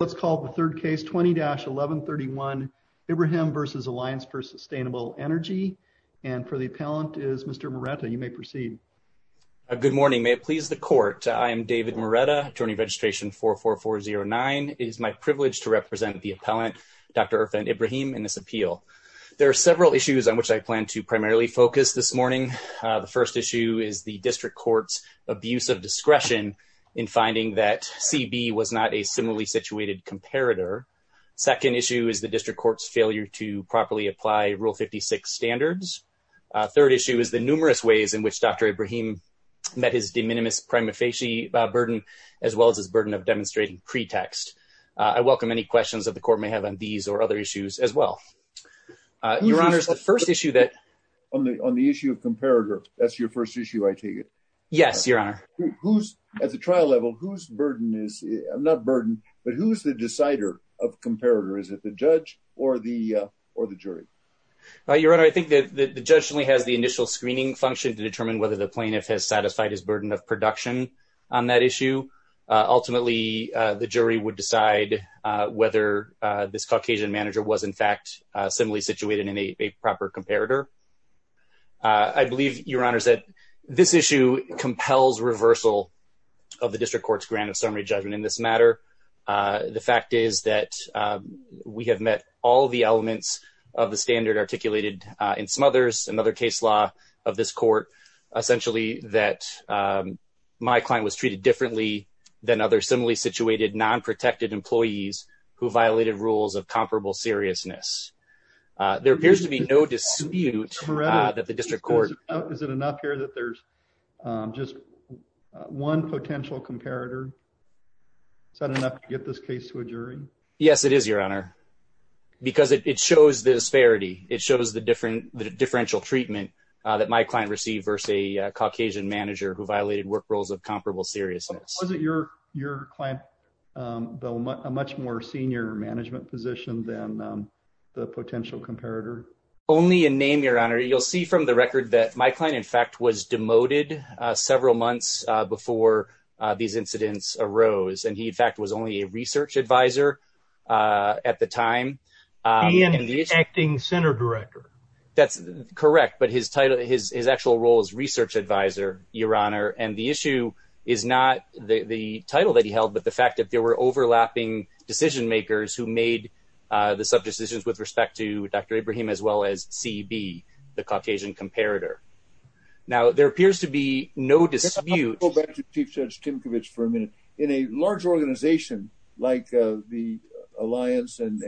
Let's call the third case 20-1131, Ibrahim v. Alliance for Sustainable Nrg, and for the appellant is Mr. Moretta. You may proceed. Good morning. May it please the court, I am David Moretta, attorney registration 44409. It is my privilege to represent the appellant, Dr. Irfan Ibrahim, in this appeal. There are several issues on which I plan to primarily focus this morning. The first issue is the district court's abuse of discretion in finding that CB was not a reasonably situated comparator. Second issue is the district court's failure to properly apply Rule 56 standards. Third issue is the numerous ways in which Dr. Ibrahim met his de minimis prima facie burden, as well as his burden of demonstrating pretext. I welcome any questions that the court may have on these or other issues as well. Your Honor, the first issue that... On the issue of comparator, that's your first issue, I take it? Yes, Your Honor. At the trial level, whose burden is... Not burden, but who's the decider of comparator? Is it the judge or the jury? Your Honor, I think that the judge only has the initial screening function to determine whether the plaintiff has satisfied his burden of production on that issue. Ultimately, the jury would decide whether this Caucasian manager was in fact similarly situated in a proper comparator. I believe, Your Honor, that this issue compels reversal of the district court's grant of summary judgment in this matter. The fact is that we have met all the elements of the standard articulated in Smothers, another case law of this court, essentially that my client was treated differently than other similarly situated, non-protected employees who violated rules of comparable seriousness. There appears to be no dispute that the district court... Is it enough here that there's just one potential comparator? Is that enough to get this case to a jury? Yes, it is, Your Honor, because it shows the disparity. It shows the differential treatment that my client received versus a Caucasian manager who violated work rules of comparable seriousness. Was it your client, though, a much more senior management position than the potential comparator? Only in name, Your Honor. You'll see from the record that my client, in fact, was demoted several months before these incidents arose, and he, in fact, was only a research advisor at the time. He ended up acting center director. That's correct, but his title, his actual role is research advisor, Your Honor, and the issue is not the title that he held, but the fact that there were overlapping decision makers who made the sub-decisions with respect to Dr. Abraham as well as CB, the Caucasian comparator. Now, there appears to be no dispute... I'll go back to Chief Judge Timcovich for a minute. In a large organization like the Alliance and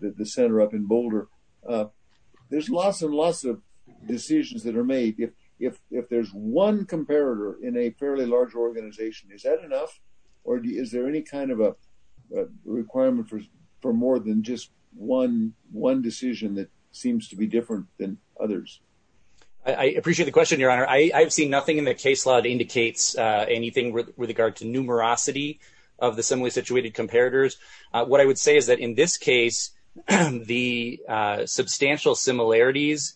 the center up in Boulder, there's lots and lots of decisions that are made. If there's one comparator in a fairly large organization, is that enough, or is there any kind of a requirement for more than just one decision that seems to be different than others? I appreciate the question, Your Honor. I've seen nothing in the case law that indicates anything with regard to numerosity of the similarly situated comparators. What I would say is that in this case, the substantial similarities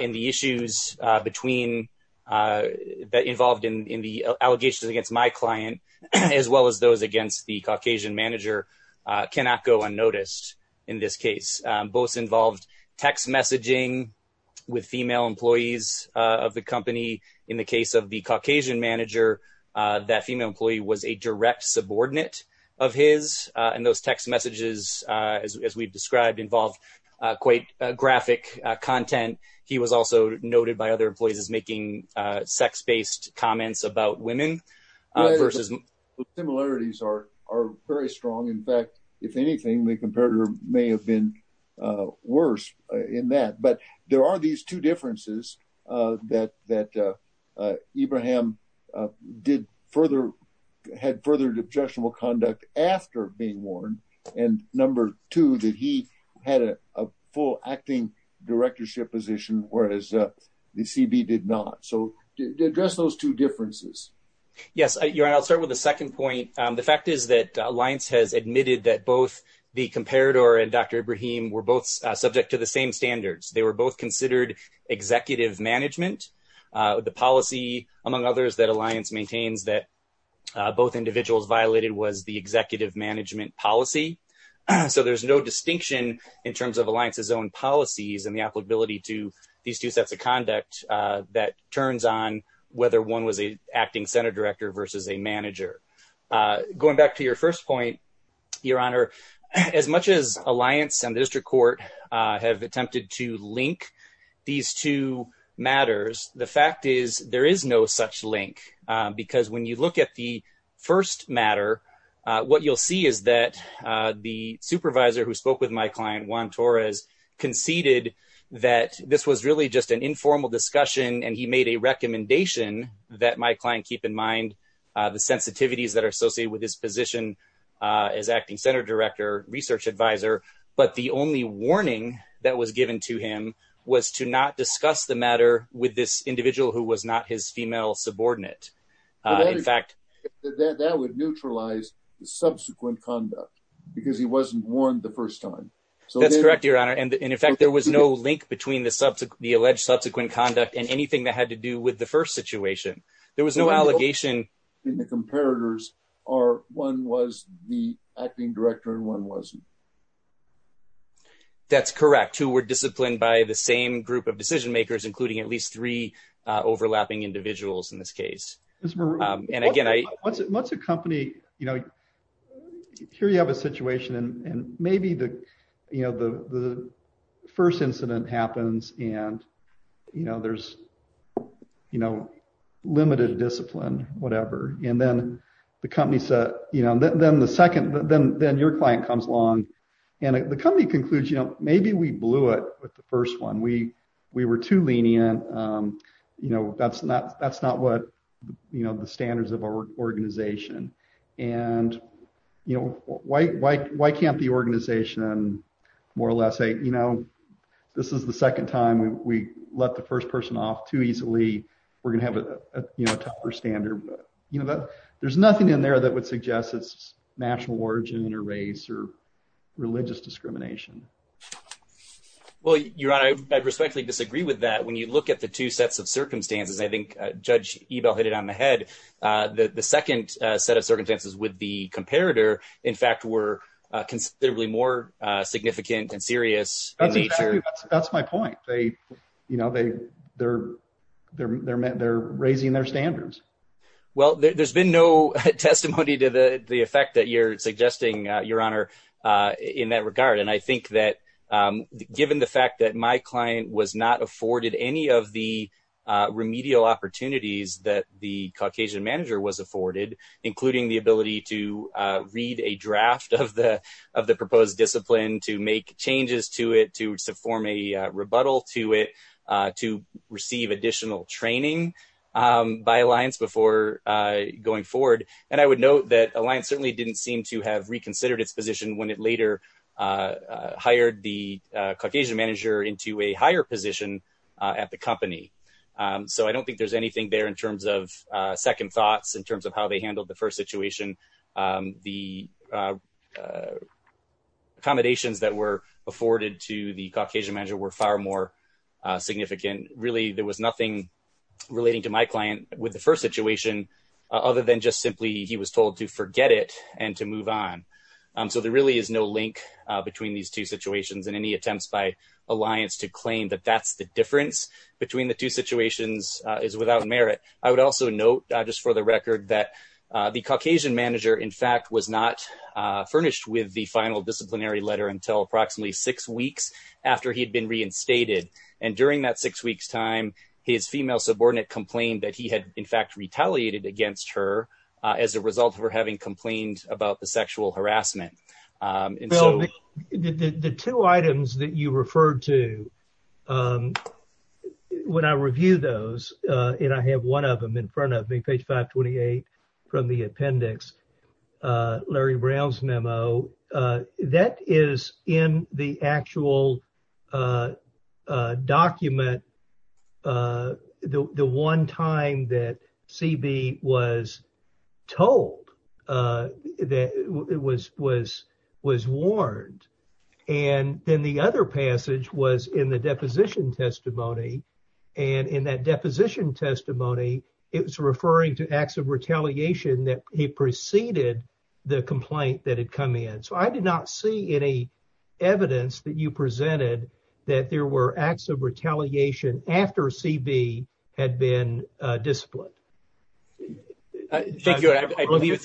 in the issues that involved in the allegations against my client as well as those against the Caucasian manager cannot go unnoticed in this case. Both involved text messaging with female employees of the company. In the case of the Caucasian manager, that female employee was a direct subordinate of his. And those text messages, as we've described, involved quite graphic content. He was also noted by other employees as making sex-based comments about women versus... The similarities are very strong. In fact, if anything, the comparator may have been worse in that. But there are these two differences that Ibrahim had further objectionable conduct after being warned, and number two, that he had a full acting directorship position, whereas the CB did not. So address those two differences. Yes, Your Honor. I'll start with the second point. The fact is that Alliance has admitted that both the comparator and Dr. Ibrahim were both subject to the same standards. They were both considered executive management. The policy, among others, that Alliance maintains that both individuals violated was the executive management policy. So there's no distinction in terms of Alliance's own policies and the applicability to these two sets of conduct that turns on whether one was an acting center director versus a manager. Going back to your first point, Your Honor, as much as Alliance and the district court have attempted to link these two matters, the fact is there is no such link. Because when you look at the first matter, what you'll see is that the supervisor who spoke with my client, Juan Torres, conceded that this was really just an informal discussion and he made a recommendation that my client keep in mind the sensitivities that are associated with his position as acting center director, research advisor. But the only warning that was given to him was to not discuss the matter with this individual who was not his female subordinate. In fact, that would neutralize the subsequent conduct because he wasn't warned the first time. That's correct, Your Honor. And in fact, there was no link between the alleged subsequent conduct and anything that had to do with the first situation. There was no allegation. In the comparators, one was the acting director and one wasn't. That's correct. Two were disciplined by the same group of decision makers, including at least three overlapping individuals in this case. What's a company, you know, here you have a situation and maybe the, you know, the first incident happens and, you know, there's, you know, limited discipline, whatever. And then the company said, you know, then the second, then your client comes along and the company concludes, you know, maybe we blew it with the first one. We were too lenient. You know, that's not what, you know, the standards of our organization. And, you know, why can't the organization more or less say, you know, this is the second time we let the first person off too easily. We're going to have a tougher standard. You know, there's nothing in there that would suggest it's national origin or race or religious discrimination. Well, Your Honor, I respectfully disagree with that. When you look at the two sets of circumstances, I think Judge Ebell hit it on the head. The second set of circumstances with the comparator, in fact, were considerably more significant and serious. That's my point. They, you know, they're raising their standards. Well, there's been no testimony to the effect that you're suggesting, Your Honor, in that regard. And I think that given the fact that my client was not afforded any of the remedial opportunities that the Caucasian manager was afforded, including the ability to read a draft of the proposed discipline, to make changes to it, to form a rebuttal to it, to receive additional training by Alliance before going forward. And I would note that Alliance certainly didn't seem to have reconsidered its position when it later hired the Caucasian manager into a higher position at the company. So I don't think there's anything there in terms of second thoughts, in terms of how they handled the first situation. The accommodations that were afforded to the Caucasian manager were far more significant. Really, there was nothing relating to my client with the first situation other than just simply he was told to forget it and to move on. So there really is no link between these two situations, and any attempts by Alliance to claim that that's the difference between the two situations is without merit. I would also note, just for the record, that the Caucasian manager, in fact, was not furnished with the final disciplinary letter until approximately six weeks after he had been reinstated. And during that six weeks time, his female subordinate complained that he had, in fact, retaliated against her as a result of her having complained about the sexual harassment. The two items that you referred to, when I review those, and I have one of them in front of me, page 528 from the appendix, Larry Brown's memo, that is in the actual document, the one time that C.B. was told, was warned. And then the other passage was in the deposition testimony. And in that deposition testimony, it was referring to acts of retaliation that he preceded the complaint that had come in. So I did not see any evidence that you presented that there were acts of retaliation after C.B. had been disciplined. Thank you.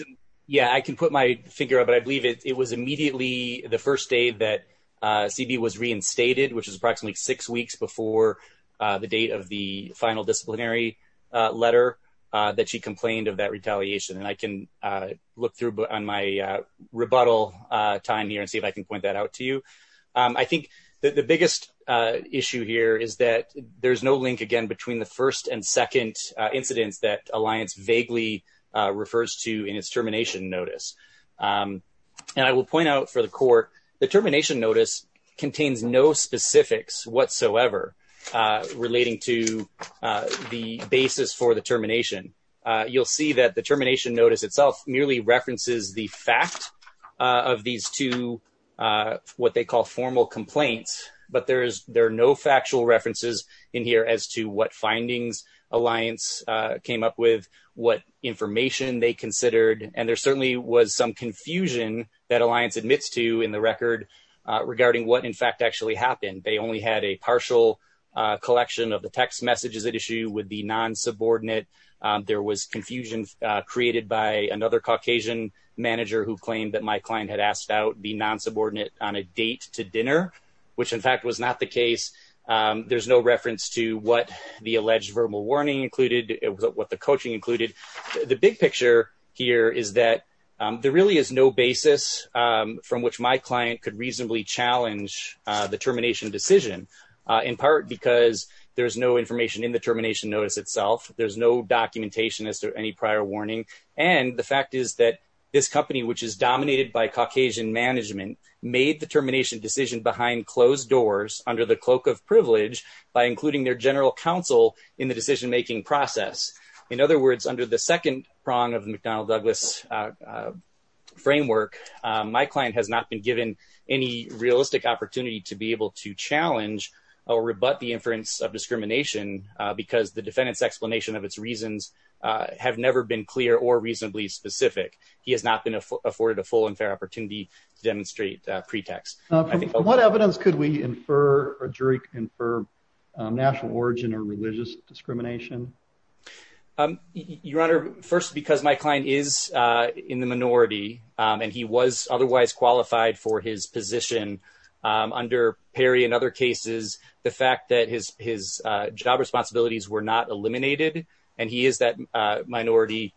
Yeah, I can put my finger up. But I believe it was immediately the first day that C.B. was reinstated, which is approximately six weeks before the date of the final disciplinary letter that she complained of that retaliation. And I can look through on my rebuttal time here and see if I can point that out to you. I think the biggest issue here is that there is no link, again, between the first and second incidents that Alliance vaguely refers to in its termination notice. And I will point out for the court, the termination notice contains no specifics whatsoever relating to the basis for the termination. You'll see that the termination notice itself merely references the fact of these two what they call formal complaints. But there is there are no factual references in here as to what findings Alliance came up with, what information they considered. And there certainly was some confusion that Alliance admits to in the record regarding what, in fact, actually happened. They only had a partial collection of the text messages that issue would be non-subordinate. There was confusion created by another Caucasian manager who claimed that my client had asked out the non-subordinate on a date to dinner, which, in fact, was not the case. There's no reference to what the alleged verbal warning included, what the coaching included. The big picture here is that there really is no basis from which my client could reasonably challenge the termination decision, in part because there is no information in the termination notice itself. There's no documentation as to any prior warning. And the fact is that this company, which is dominated by Caucasian management, made the termination decision behind closed doors under the cloak of privilege by including their general counsel in the decision making process. In other words, under the second prong of the McDonnell Douglas framework, my client has not been given any realistic opportunity to be able to challenge or rebut the inference of discrimination because the defendant's explanation of its reasons have never been clear or reasonably specific. He has not been afforded a full and fair opportunity to demonstrate pretext. What evidence could we infer or jury infer national origin or religious discrimination? Your Honor, first, because my client is in the minority and he was otherwise qualified for his position under Perry and other cases, the fact that his his job responsibilities were not eliminated and he is that minority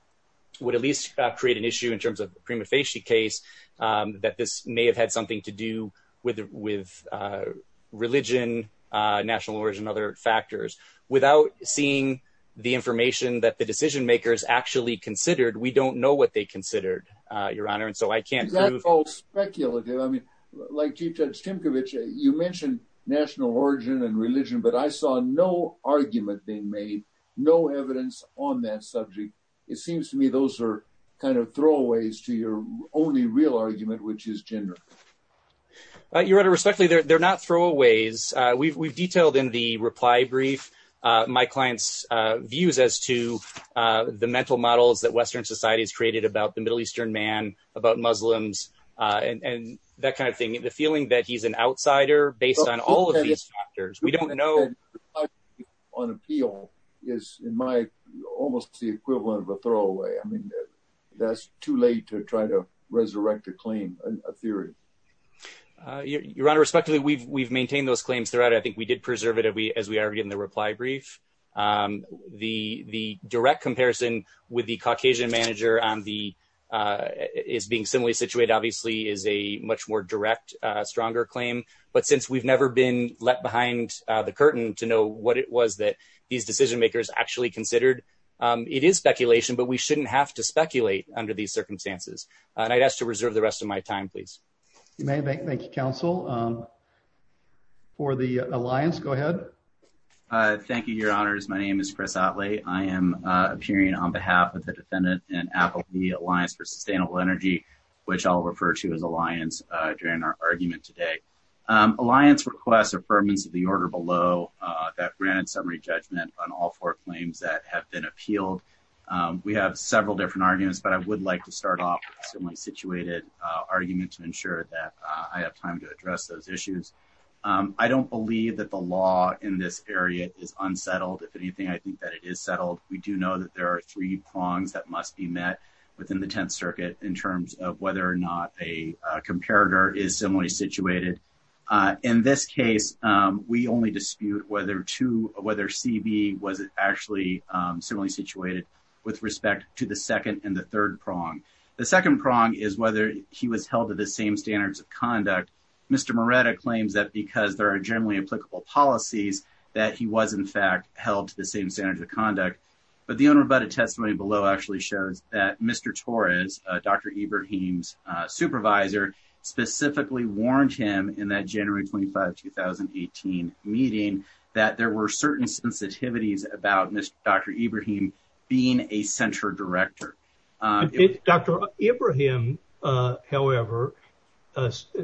would at least create an issue in terms of prima facie case that this may have had something to do with with religion, national origin, other factors. Without seeing the information that the decision makers actually considered, we don't know what they considered, Your Honor. And so I can't call speculative. I mean, like you, Judge Tinkovich, you mentioned national origin and religion. But I saw no argument being made, no evidence on that subject. It seems to me those are kind of throwaways to your only real argument, which is gender. Your Honor, respectfully, they're not throwaways. We've detailed in the reply brief my client's views as to the mental models that Western society has created about the Middle Eastern man, about Muslims and that kind of thing, the feeling that he's an outsider based on all of these factors. We don't know on appeal is in my almost the equivalent of a throwaway. I mean, that's too late to try to resurrect a claim, a theory. Your Honor, respectfully, we've we've maintained those claims throughout. I think we did preserve it as we are in the reply brief. The the direct comparison with the Caucasian manager on the is being similarly situated, obviously, is a much more direct, stronger claim. But since we've never been left behind the curtain to know what it was that these decision makers actually considered, it is speculation. But we shouldn't have to speculate under these circumstances. And I'd ask to reserve the rest of my time, please. You may make. Thank you, counsel. For the alliance. Go ahead. Thank you, Your Honors. My name is Chris Atley. I am appearing on behalf of the defendant and Applebee Alliance for Sustainable Energy, which I'll refer to as Alliance during our argument today. Alliance requests affirmance of the order below that granted summary judgment on all four claims that have been appealed. We have several different arguments, but I would like to start off with a similarly situated argument to ensure that I have time to address those issues. I don't believe that the law in this area is unsettled. If anything, I think that it is settled. We do know that there are three prongs that must be met within the Tenth Circuit in terms of whether or not a comparator is similarly situated. In this case, we only dispute whether to whether CB was actually similarly situated with respect to the second and the third prong. The second prong is whether he was held to the same standards of conduct. Mr. Moretta claims that because there are generally applicable policies that he was, in fact, held to the same standards of conduct. But the unrebutted testimony below actually shows that Mr. Torres, Dr. Ibrahim's supervisor, specifically warned him in that January 25, 2018 meeting that there were certain sensitivities about Dr. Ibrahim, however,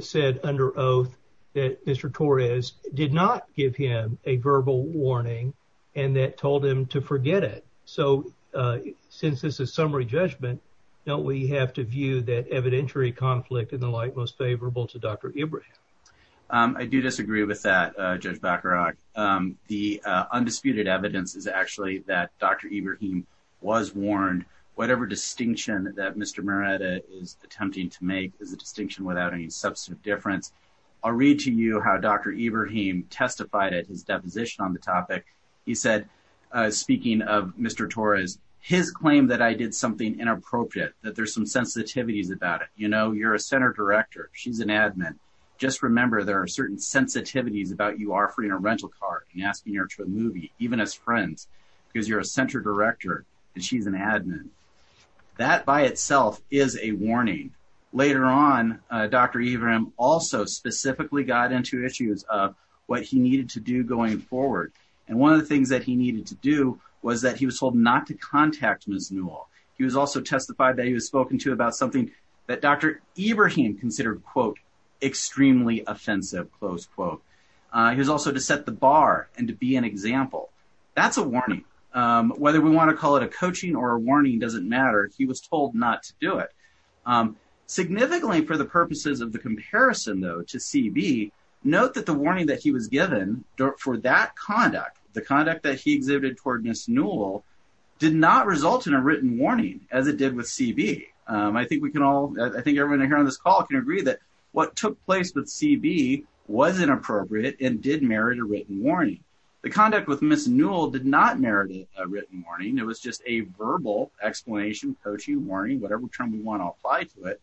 said under oath that Mr. Torres did not give him a verbal warning and that told him to forget it. So since this is summary judgment, don't we have to view that evidentiary conflict in the light most favorable to Dr. I do disagree with that, Judge Bacharach. The undisputed evidence is actually that Dr. Ibrahim was warned. Whatever distinction that Mr. Moretta is attempting to make is a distinction without any substantive difference. I'll read to you how Dr. Ibrahim testified at his deposition on the topic. He said, speaking of Mr. Torres, his claim that I did something inappropriate, that there's some sensitivities about it. You know, you're a center director. She's an admin. Just remember, there are certain sensitivities about you offering a rental car and asking her to a movie, even as friends, because you're a center director and she's an admin. That by itself is a warning. Later on, Dr. Ibrahim also specifically got into issues of what he needed to do going forward. And one of the things that he needed to do was that he was told not to contact Ms. Newell. He was also testified that he was spoken to about something that Dr. Ibrahim considered, quote, extremely offensive, close quote. He was also to set the bar and to be an example. That's a warning. Whether we want to call it a coaching or a warning doesn't matter. He was told not to do it. Significantly, for the purposes of the comparison, though, to CB, note that the warning that he was given for that conduct, the conduct that he exhibited toward Ms. Newell did not result in a written warning as it did with CB. I think we can all I think everyone here on this call can agree that what took place with CB was inappropriate and did merit a written warning. The conduct with Ms. Newell did not merit a written warning. It was just a verbal explanation, coaching, warning, whatever term we want to apply to it.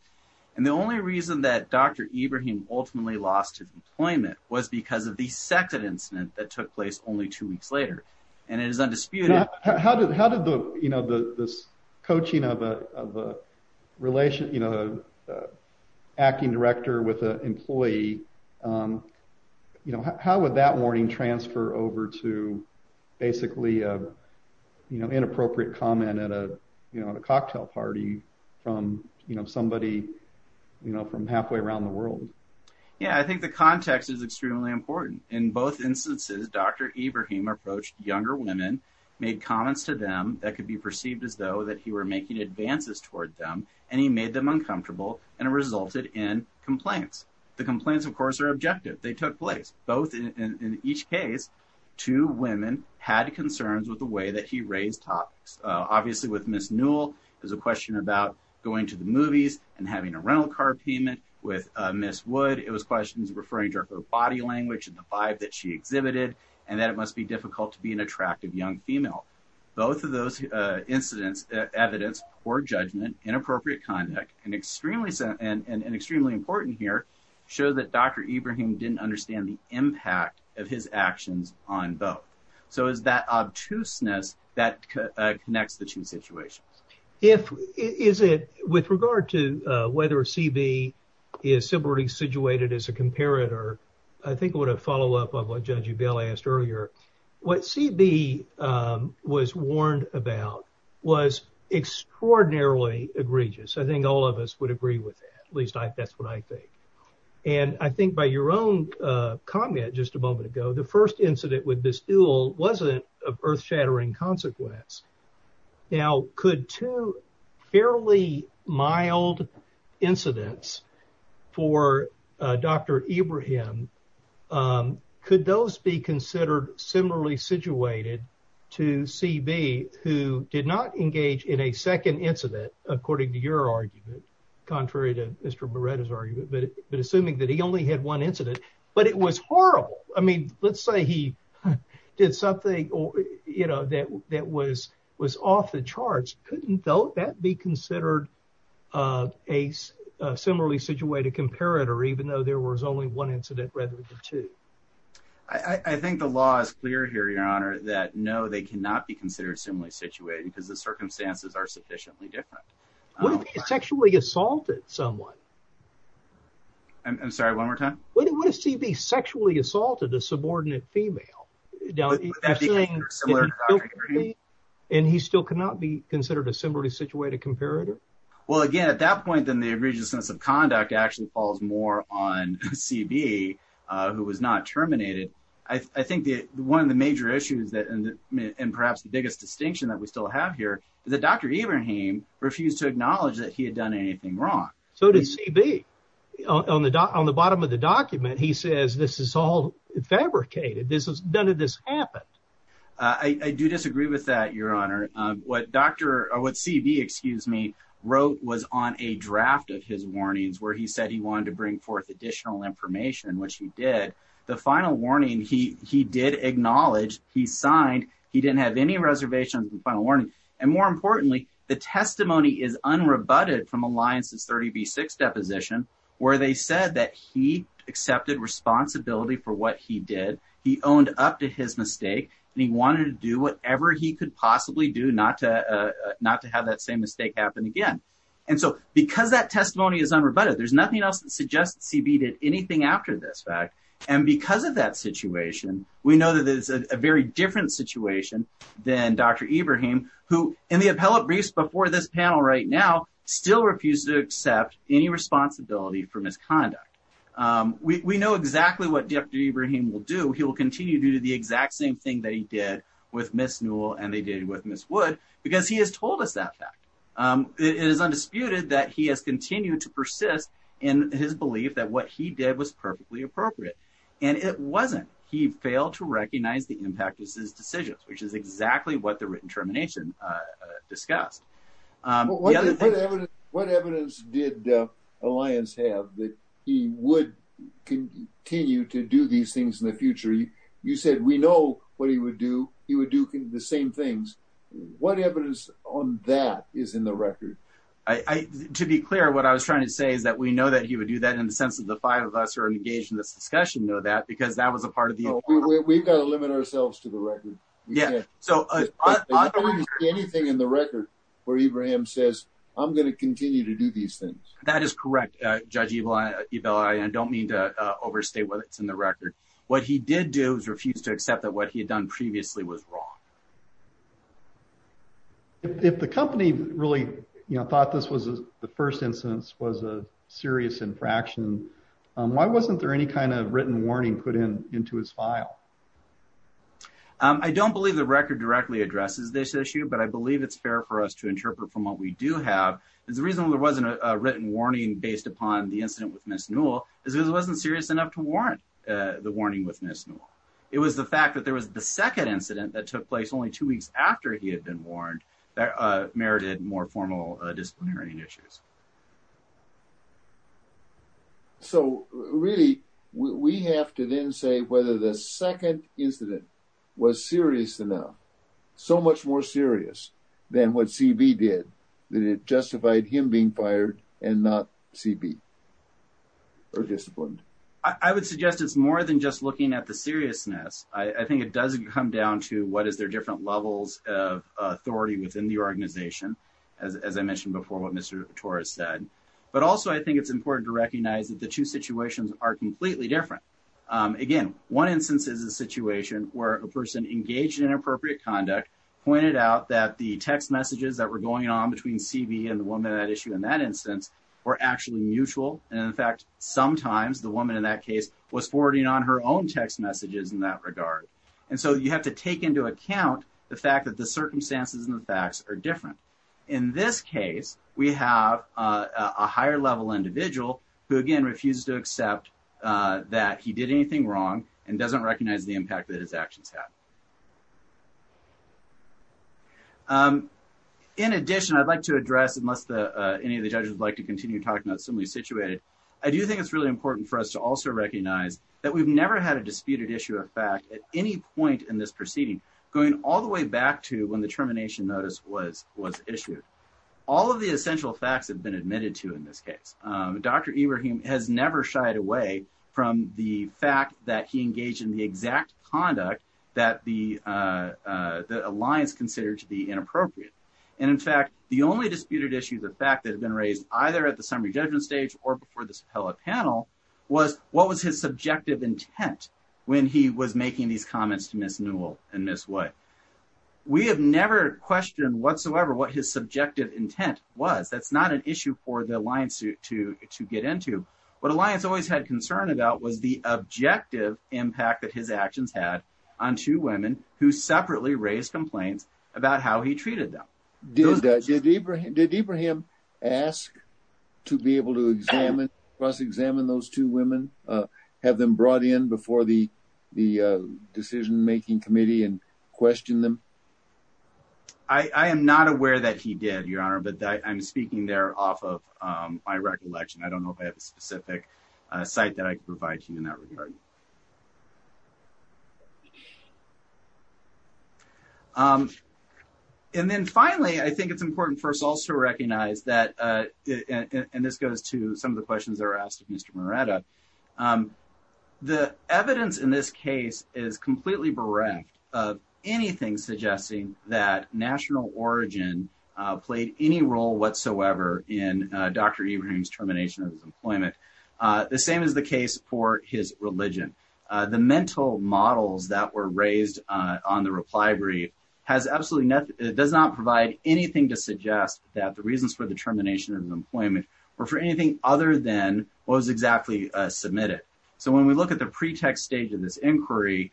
And the only reason that Dr. Ibrahim ultimately lost his employment was because of the second incident that took place only two weeks later. And it is undisputed. How did how did the you know, this coaching of a of a relation, you know, acting director with an employee, you know, how would that warning transfer over to basically, you know, inappropriate comment at a cocktail party from, you know, somebody, you know, from halfway around the world? Yeah, I think the context is extremely important. In both instances, Dr. Ibrahim approached younger women, made comments to them that could be perceived as though that he were making advances toward them and he made them uncomfortable and resulted in complaints. The complaints, of course, are objective. They took place both in each case. Two women had concerns with the way that he raised topics. Obviously, with Ms. Newell, there's a question about going to the movies and having a rental car payment with Ms. Wood. It was questions referring to her body language and the vibe that she exhibited and that it must be difficult to be an attractive young female. Both of those incidents, evidence for judgment, inappropriate conduct and extremely and extremely important here show that Dr. Ibrahim didn't understand the impact of his actions on both. So is that obtuseness that connects the two situations? If is it with regard to whether CB is simply situated as a comparator? I think what a follow up of what Judge Bell asked earlier, what CB was warned about was extraordinarily egregious. I think all of us would agree with that. At least that's what I think. And I think by your own comment just a moment ago, the first incident with Ms. Newell wasn't of earth shattering consequence. Now, could two fairly mild incidents for Dr. Ibrahim, could those be considered similarly situated to CB who did not engage in a second incident, according to your argument? Contrary to Mr. Beretta's argument, but assuming that he only had one incident, but it was horrible. I mean, let's say he did something, you know, that that was was off the charts. Couldn't that be considered a similarly situated comparator, even though there was only one incident rather than two? I think the law is clear here, Your Honor, that no, they cannot be considered similarly situated because the circumstances are sufficiently different. What if he sexually assaulted someone? I'm sorry, one more time. What if CB sexually assaulted a subordinate female? Would that be considered similar to Dr. Ibrahim? And he still cannot be considered a similarly situated comparator? Well, again, at that point, then the egregiousness of conduct actually falls more on CB, who was not terminated. I think that one of the major issues that and perhaps the biggest distinction that we still have here is that Dr. Ibrahim refused to acknowledge that he had done anything wrong. So does CB on the on the bottom of the document, he says, this is all fabricated. This is none of this happened. I do disagree with that, Your Honor. What Dr. or what CB, excuse me, wrote was on a draft of his warnings where he said he wanted to bring forth additional information, which he did. The final warning he he did acknowledge he signed. He didn't have any reservations and final warning. And more importantly, the testimony is unrebutted from Alliance's 30B6 deposition where they said that he accepted responsibility for what he did. He owned up to his mistake and he wanted to do whatever he could possibly do not to not to have that same mistake happen again. And so because that testimony is unrebutted, there's nothing else that suggests CB did anything after this fact. And because of that situation, we know that there's a very different situation than Dr. Ibrahim, who in the appellate briefs before this panel right now, still refuse to accept any responsibility for misconduct. We know exactly what Dr. Ibrahim will do. He will continue to do the exact same thing that he did with Miss Newell and they did with Miss Wood because he has told us that fact. It is undisputed that he has continued to persist in his belief that what he did was perfectly appropriate. And it wasn't. He failed to recognize the impact of his decisions, which is exactly what the written termination discussed. What evidence did Alliance have that he would continue to do these things in the future? You said we know what he would do. He would do the same things. What evidence on that is in the record? To be clear, what I was trying to say is that we know that he would do that in the sense of the five of us who are engaged in this discussion know that because that was a part of the. We've got to limit ourselves to the record. Yeah. So I don't see anything in the record where Ibrahim says, I'm going to continue to do these things. That is correct. Judge, you know, I don't mean to overstate what's in the record. What he did do is refuse to accept that what he had done previously was wrong. If the company really thought this was the first instance was a serious infraction, why wasn't there any kind of written warning put in into his file? I don't believe the record directly addresses this issue, but I believe it's fair for us to interpret from what we do have. The reason there wasn't a written warning based upon the incident with Miss Newell is it wasn't serious enough to warrant the warning with Miss Newell. It was the fact that there was the second incident that took place only two weeks after he had been warned that merited more formal disciplinary issues. So really, we have to then say whether the second incident was serious enough, so much more serious than what CB did, that it justified him being fired and not CB or disciplined. I would suggest it's more than just looking at the seriousness. I think it does come down to what is their different levels of authority within the organization, as I mentioned before, what Mr. Torres said. But also, I think it's important to recognize that the two situations are completely different. Again, one instance is a situation where a person engaged in inappropriate conduct pointed out that the text messages that were going on between CB and the woman at issue in that instance were actually mutual. And in fact, sometimes the woman in that case was forwarding on her own text messages in that regard. And so you have to take into account the fact that the circumstances and the facts are different. In this case, we have a higher level individual who, again, refuses to accept that he did anything wrong and doesn't recognize the impact that his actions have. In addition, I'd like to address, unless any of the judges would like to continue talking about similarly situated, I do think it's really important for us to also recognize that we've never had a disputed issue of fact at any point in this proceeding, going all the way back to when the termination notice was issued. All of the essential facts have been admitted to in this case. Dr. Ibrahim has never shied away from the fact that he engaged in the exact conduct that the alliance considered to be inappropriate. And in fact, the only disputed issue, the fact that had been raised either at the summary judgment stage or before this panel was what was his subjective intent when he was making these comments to Ms. Newell and Ms. White. We have never questioned whatsoever what his subjective intent was. That's not an issue for the alliance to get into. What Alliance always had concern about was the objective impact that his actions had on two women who separately raised complaints about how he treated them. Did Ibrahim ask to be able to examine, cross-examine those two women? Have them brought in before the decision-making committee and questioned them? I am not aware that he did, Your Honor, but I'm speaking there off of my recollection. I don't know if I have a specific site that I can provide to you in that regard. And then finally, I think it's important for us all to recognize that, and this goes to some of the questions that were asked of Mr. Moretta, the evidence in this case is completely bereft of anything suggesting that national origin played any role whatsoever in Dr. Ibrahim's termination of his employment. The same is the case for his religion. The mental models that were raised on the reply brief does not provide anything to suggest that the reasons for the termination of employment were for anything other than what was exactly submitted. So when we look at the pretext stage of this inquiry,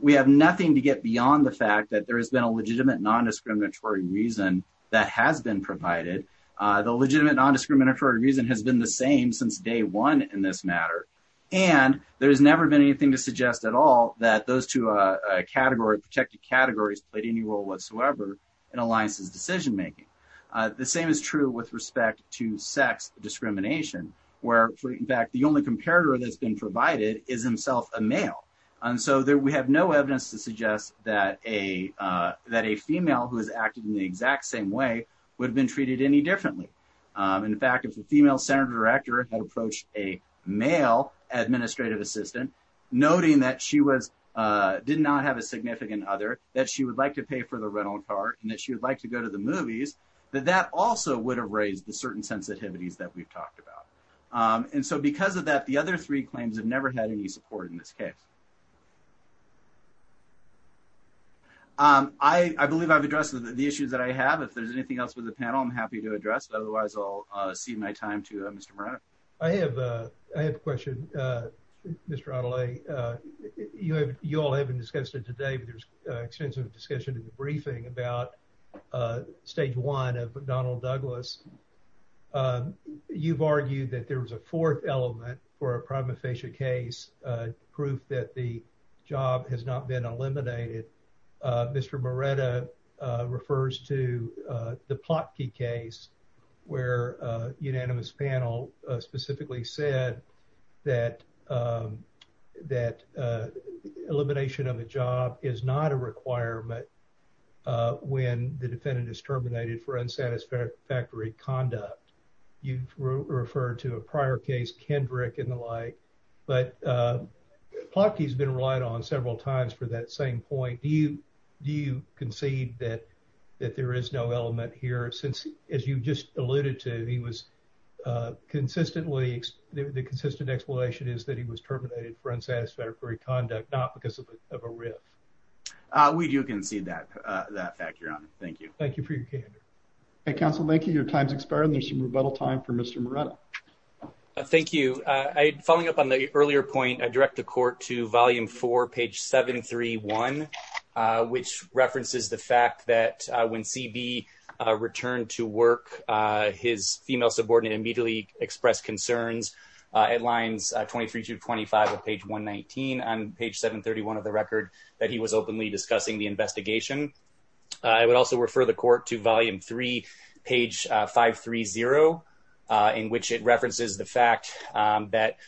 we have nothing to get beyond the fact that there has been a legitimate non-discriminatory reason that has been provided. The legitimate non-discriminatory reason has been the same since day one in this matter. And there has never been anything to suggest at all that those two protected categories played any role whatsoever in Alliance's decision-making. The same is true with respect to sex discrimination, where, in fact, the only comparator that's been provided is himself a male. And so we have no evidence to suggest that a female who has acted in the exact same way would have been treated any differently. In fact, if the female center director had approached a male administrative assistant, noting that she did not have a significant other, that she would like to pay for the rental car, and that she would like to go to the movies, that that also would have raised the certain sensitivities that we've talked about. And so because of that, the other three claims have never had any support in this case. I believe I've addressed the issues that I have. If there's anything else with the panel, I'm happy to address. Otherwise, I'll cede my time to Mr. Moreno. I have a question, Mr. Adelaide. You all have discussed it today, but there's extensive discussion in the briefing about stage one of Donald Douglas. You've argued that there was a fourth element for a prima facie case, proof that the job has not been eliminated. Mr. Moreno refers to the Plotky case, where a unanimous panel specifically said that elimination of a job is not a requirement when the defendant is terminated for unsatisfactory conduct. You've referred to a prior case, Kendrick and the like, but Plotky has been relied on several times for that same point. Do you concede that there is no element here? Since, as you just alluded to, the consistent explanation is that he was terminated for unsatisfactory conduct, not because of a riff. We do concede that fact, Your Honor. Thank you. Thank you for your candor. Counsel, thank you. Your time's expired. There's some rebuttal time for Mr. Moreno. Thank you. Following up on the earlier point, I direct the court to Volume 4, page 731, which references the fact that when C.B. returned to work, his female subordinate immediately expressed concerns at lines 23 to 25 of page 119 on page 731 of the record that he was openly discussing the investigation. I would also refer the court to Volume 3, page 530, in which it references the fact that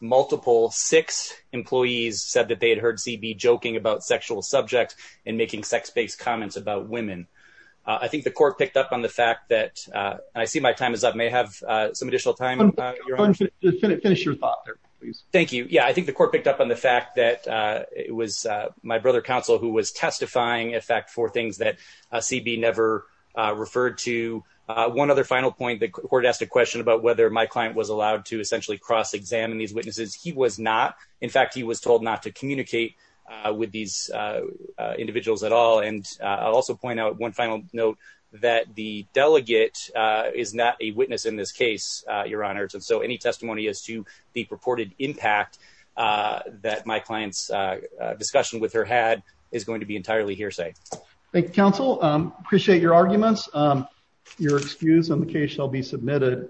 multiple, six employees said that they had heard C.B. joking about sexual subjects and making sex-based comments about women. I think the court picked up on the fact that, and I see my time is up. May I have some additional time, Your Honor? Finish your thought there, please. Thank you. Yeah, I think the court picked up on the fact that it was my brother, Counsel, who was testifying, in fact, for things that C.B. never referred to. One other final point, the court asked a question about whether my client was allowed to essentially cross-examine these witnesses. He was not. In fact, he was told not to communicate with these individuals at all. And I'll also point out one final note that the delegate is not a witness in this case, Your Honor. So any testimony as to the purported impact that my client's discussion with her had is going to be entirely hearsay. Thank you, Counsel. Appreciate your arguments. Your excuse on the case shall be submitted.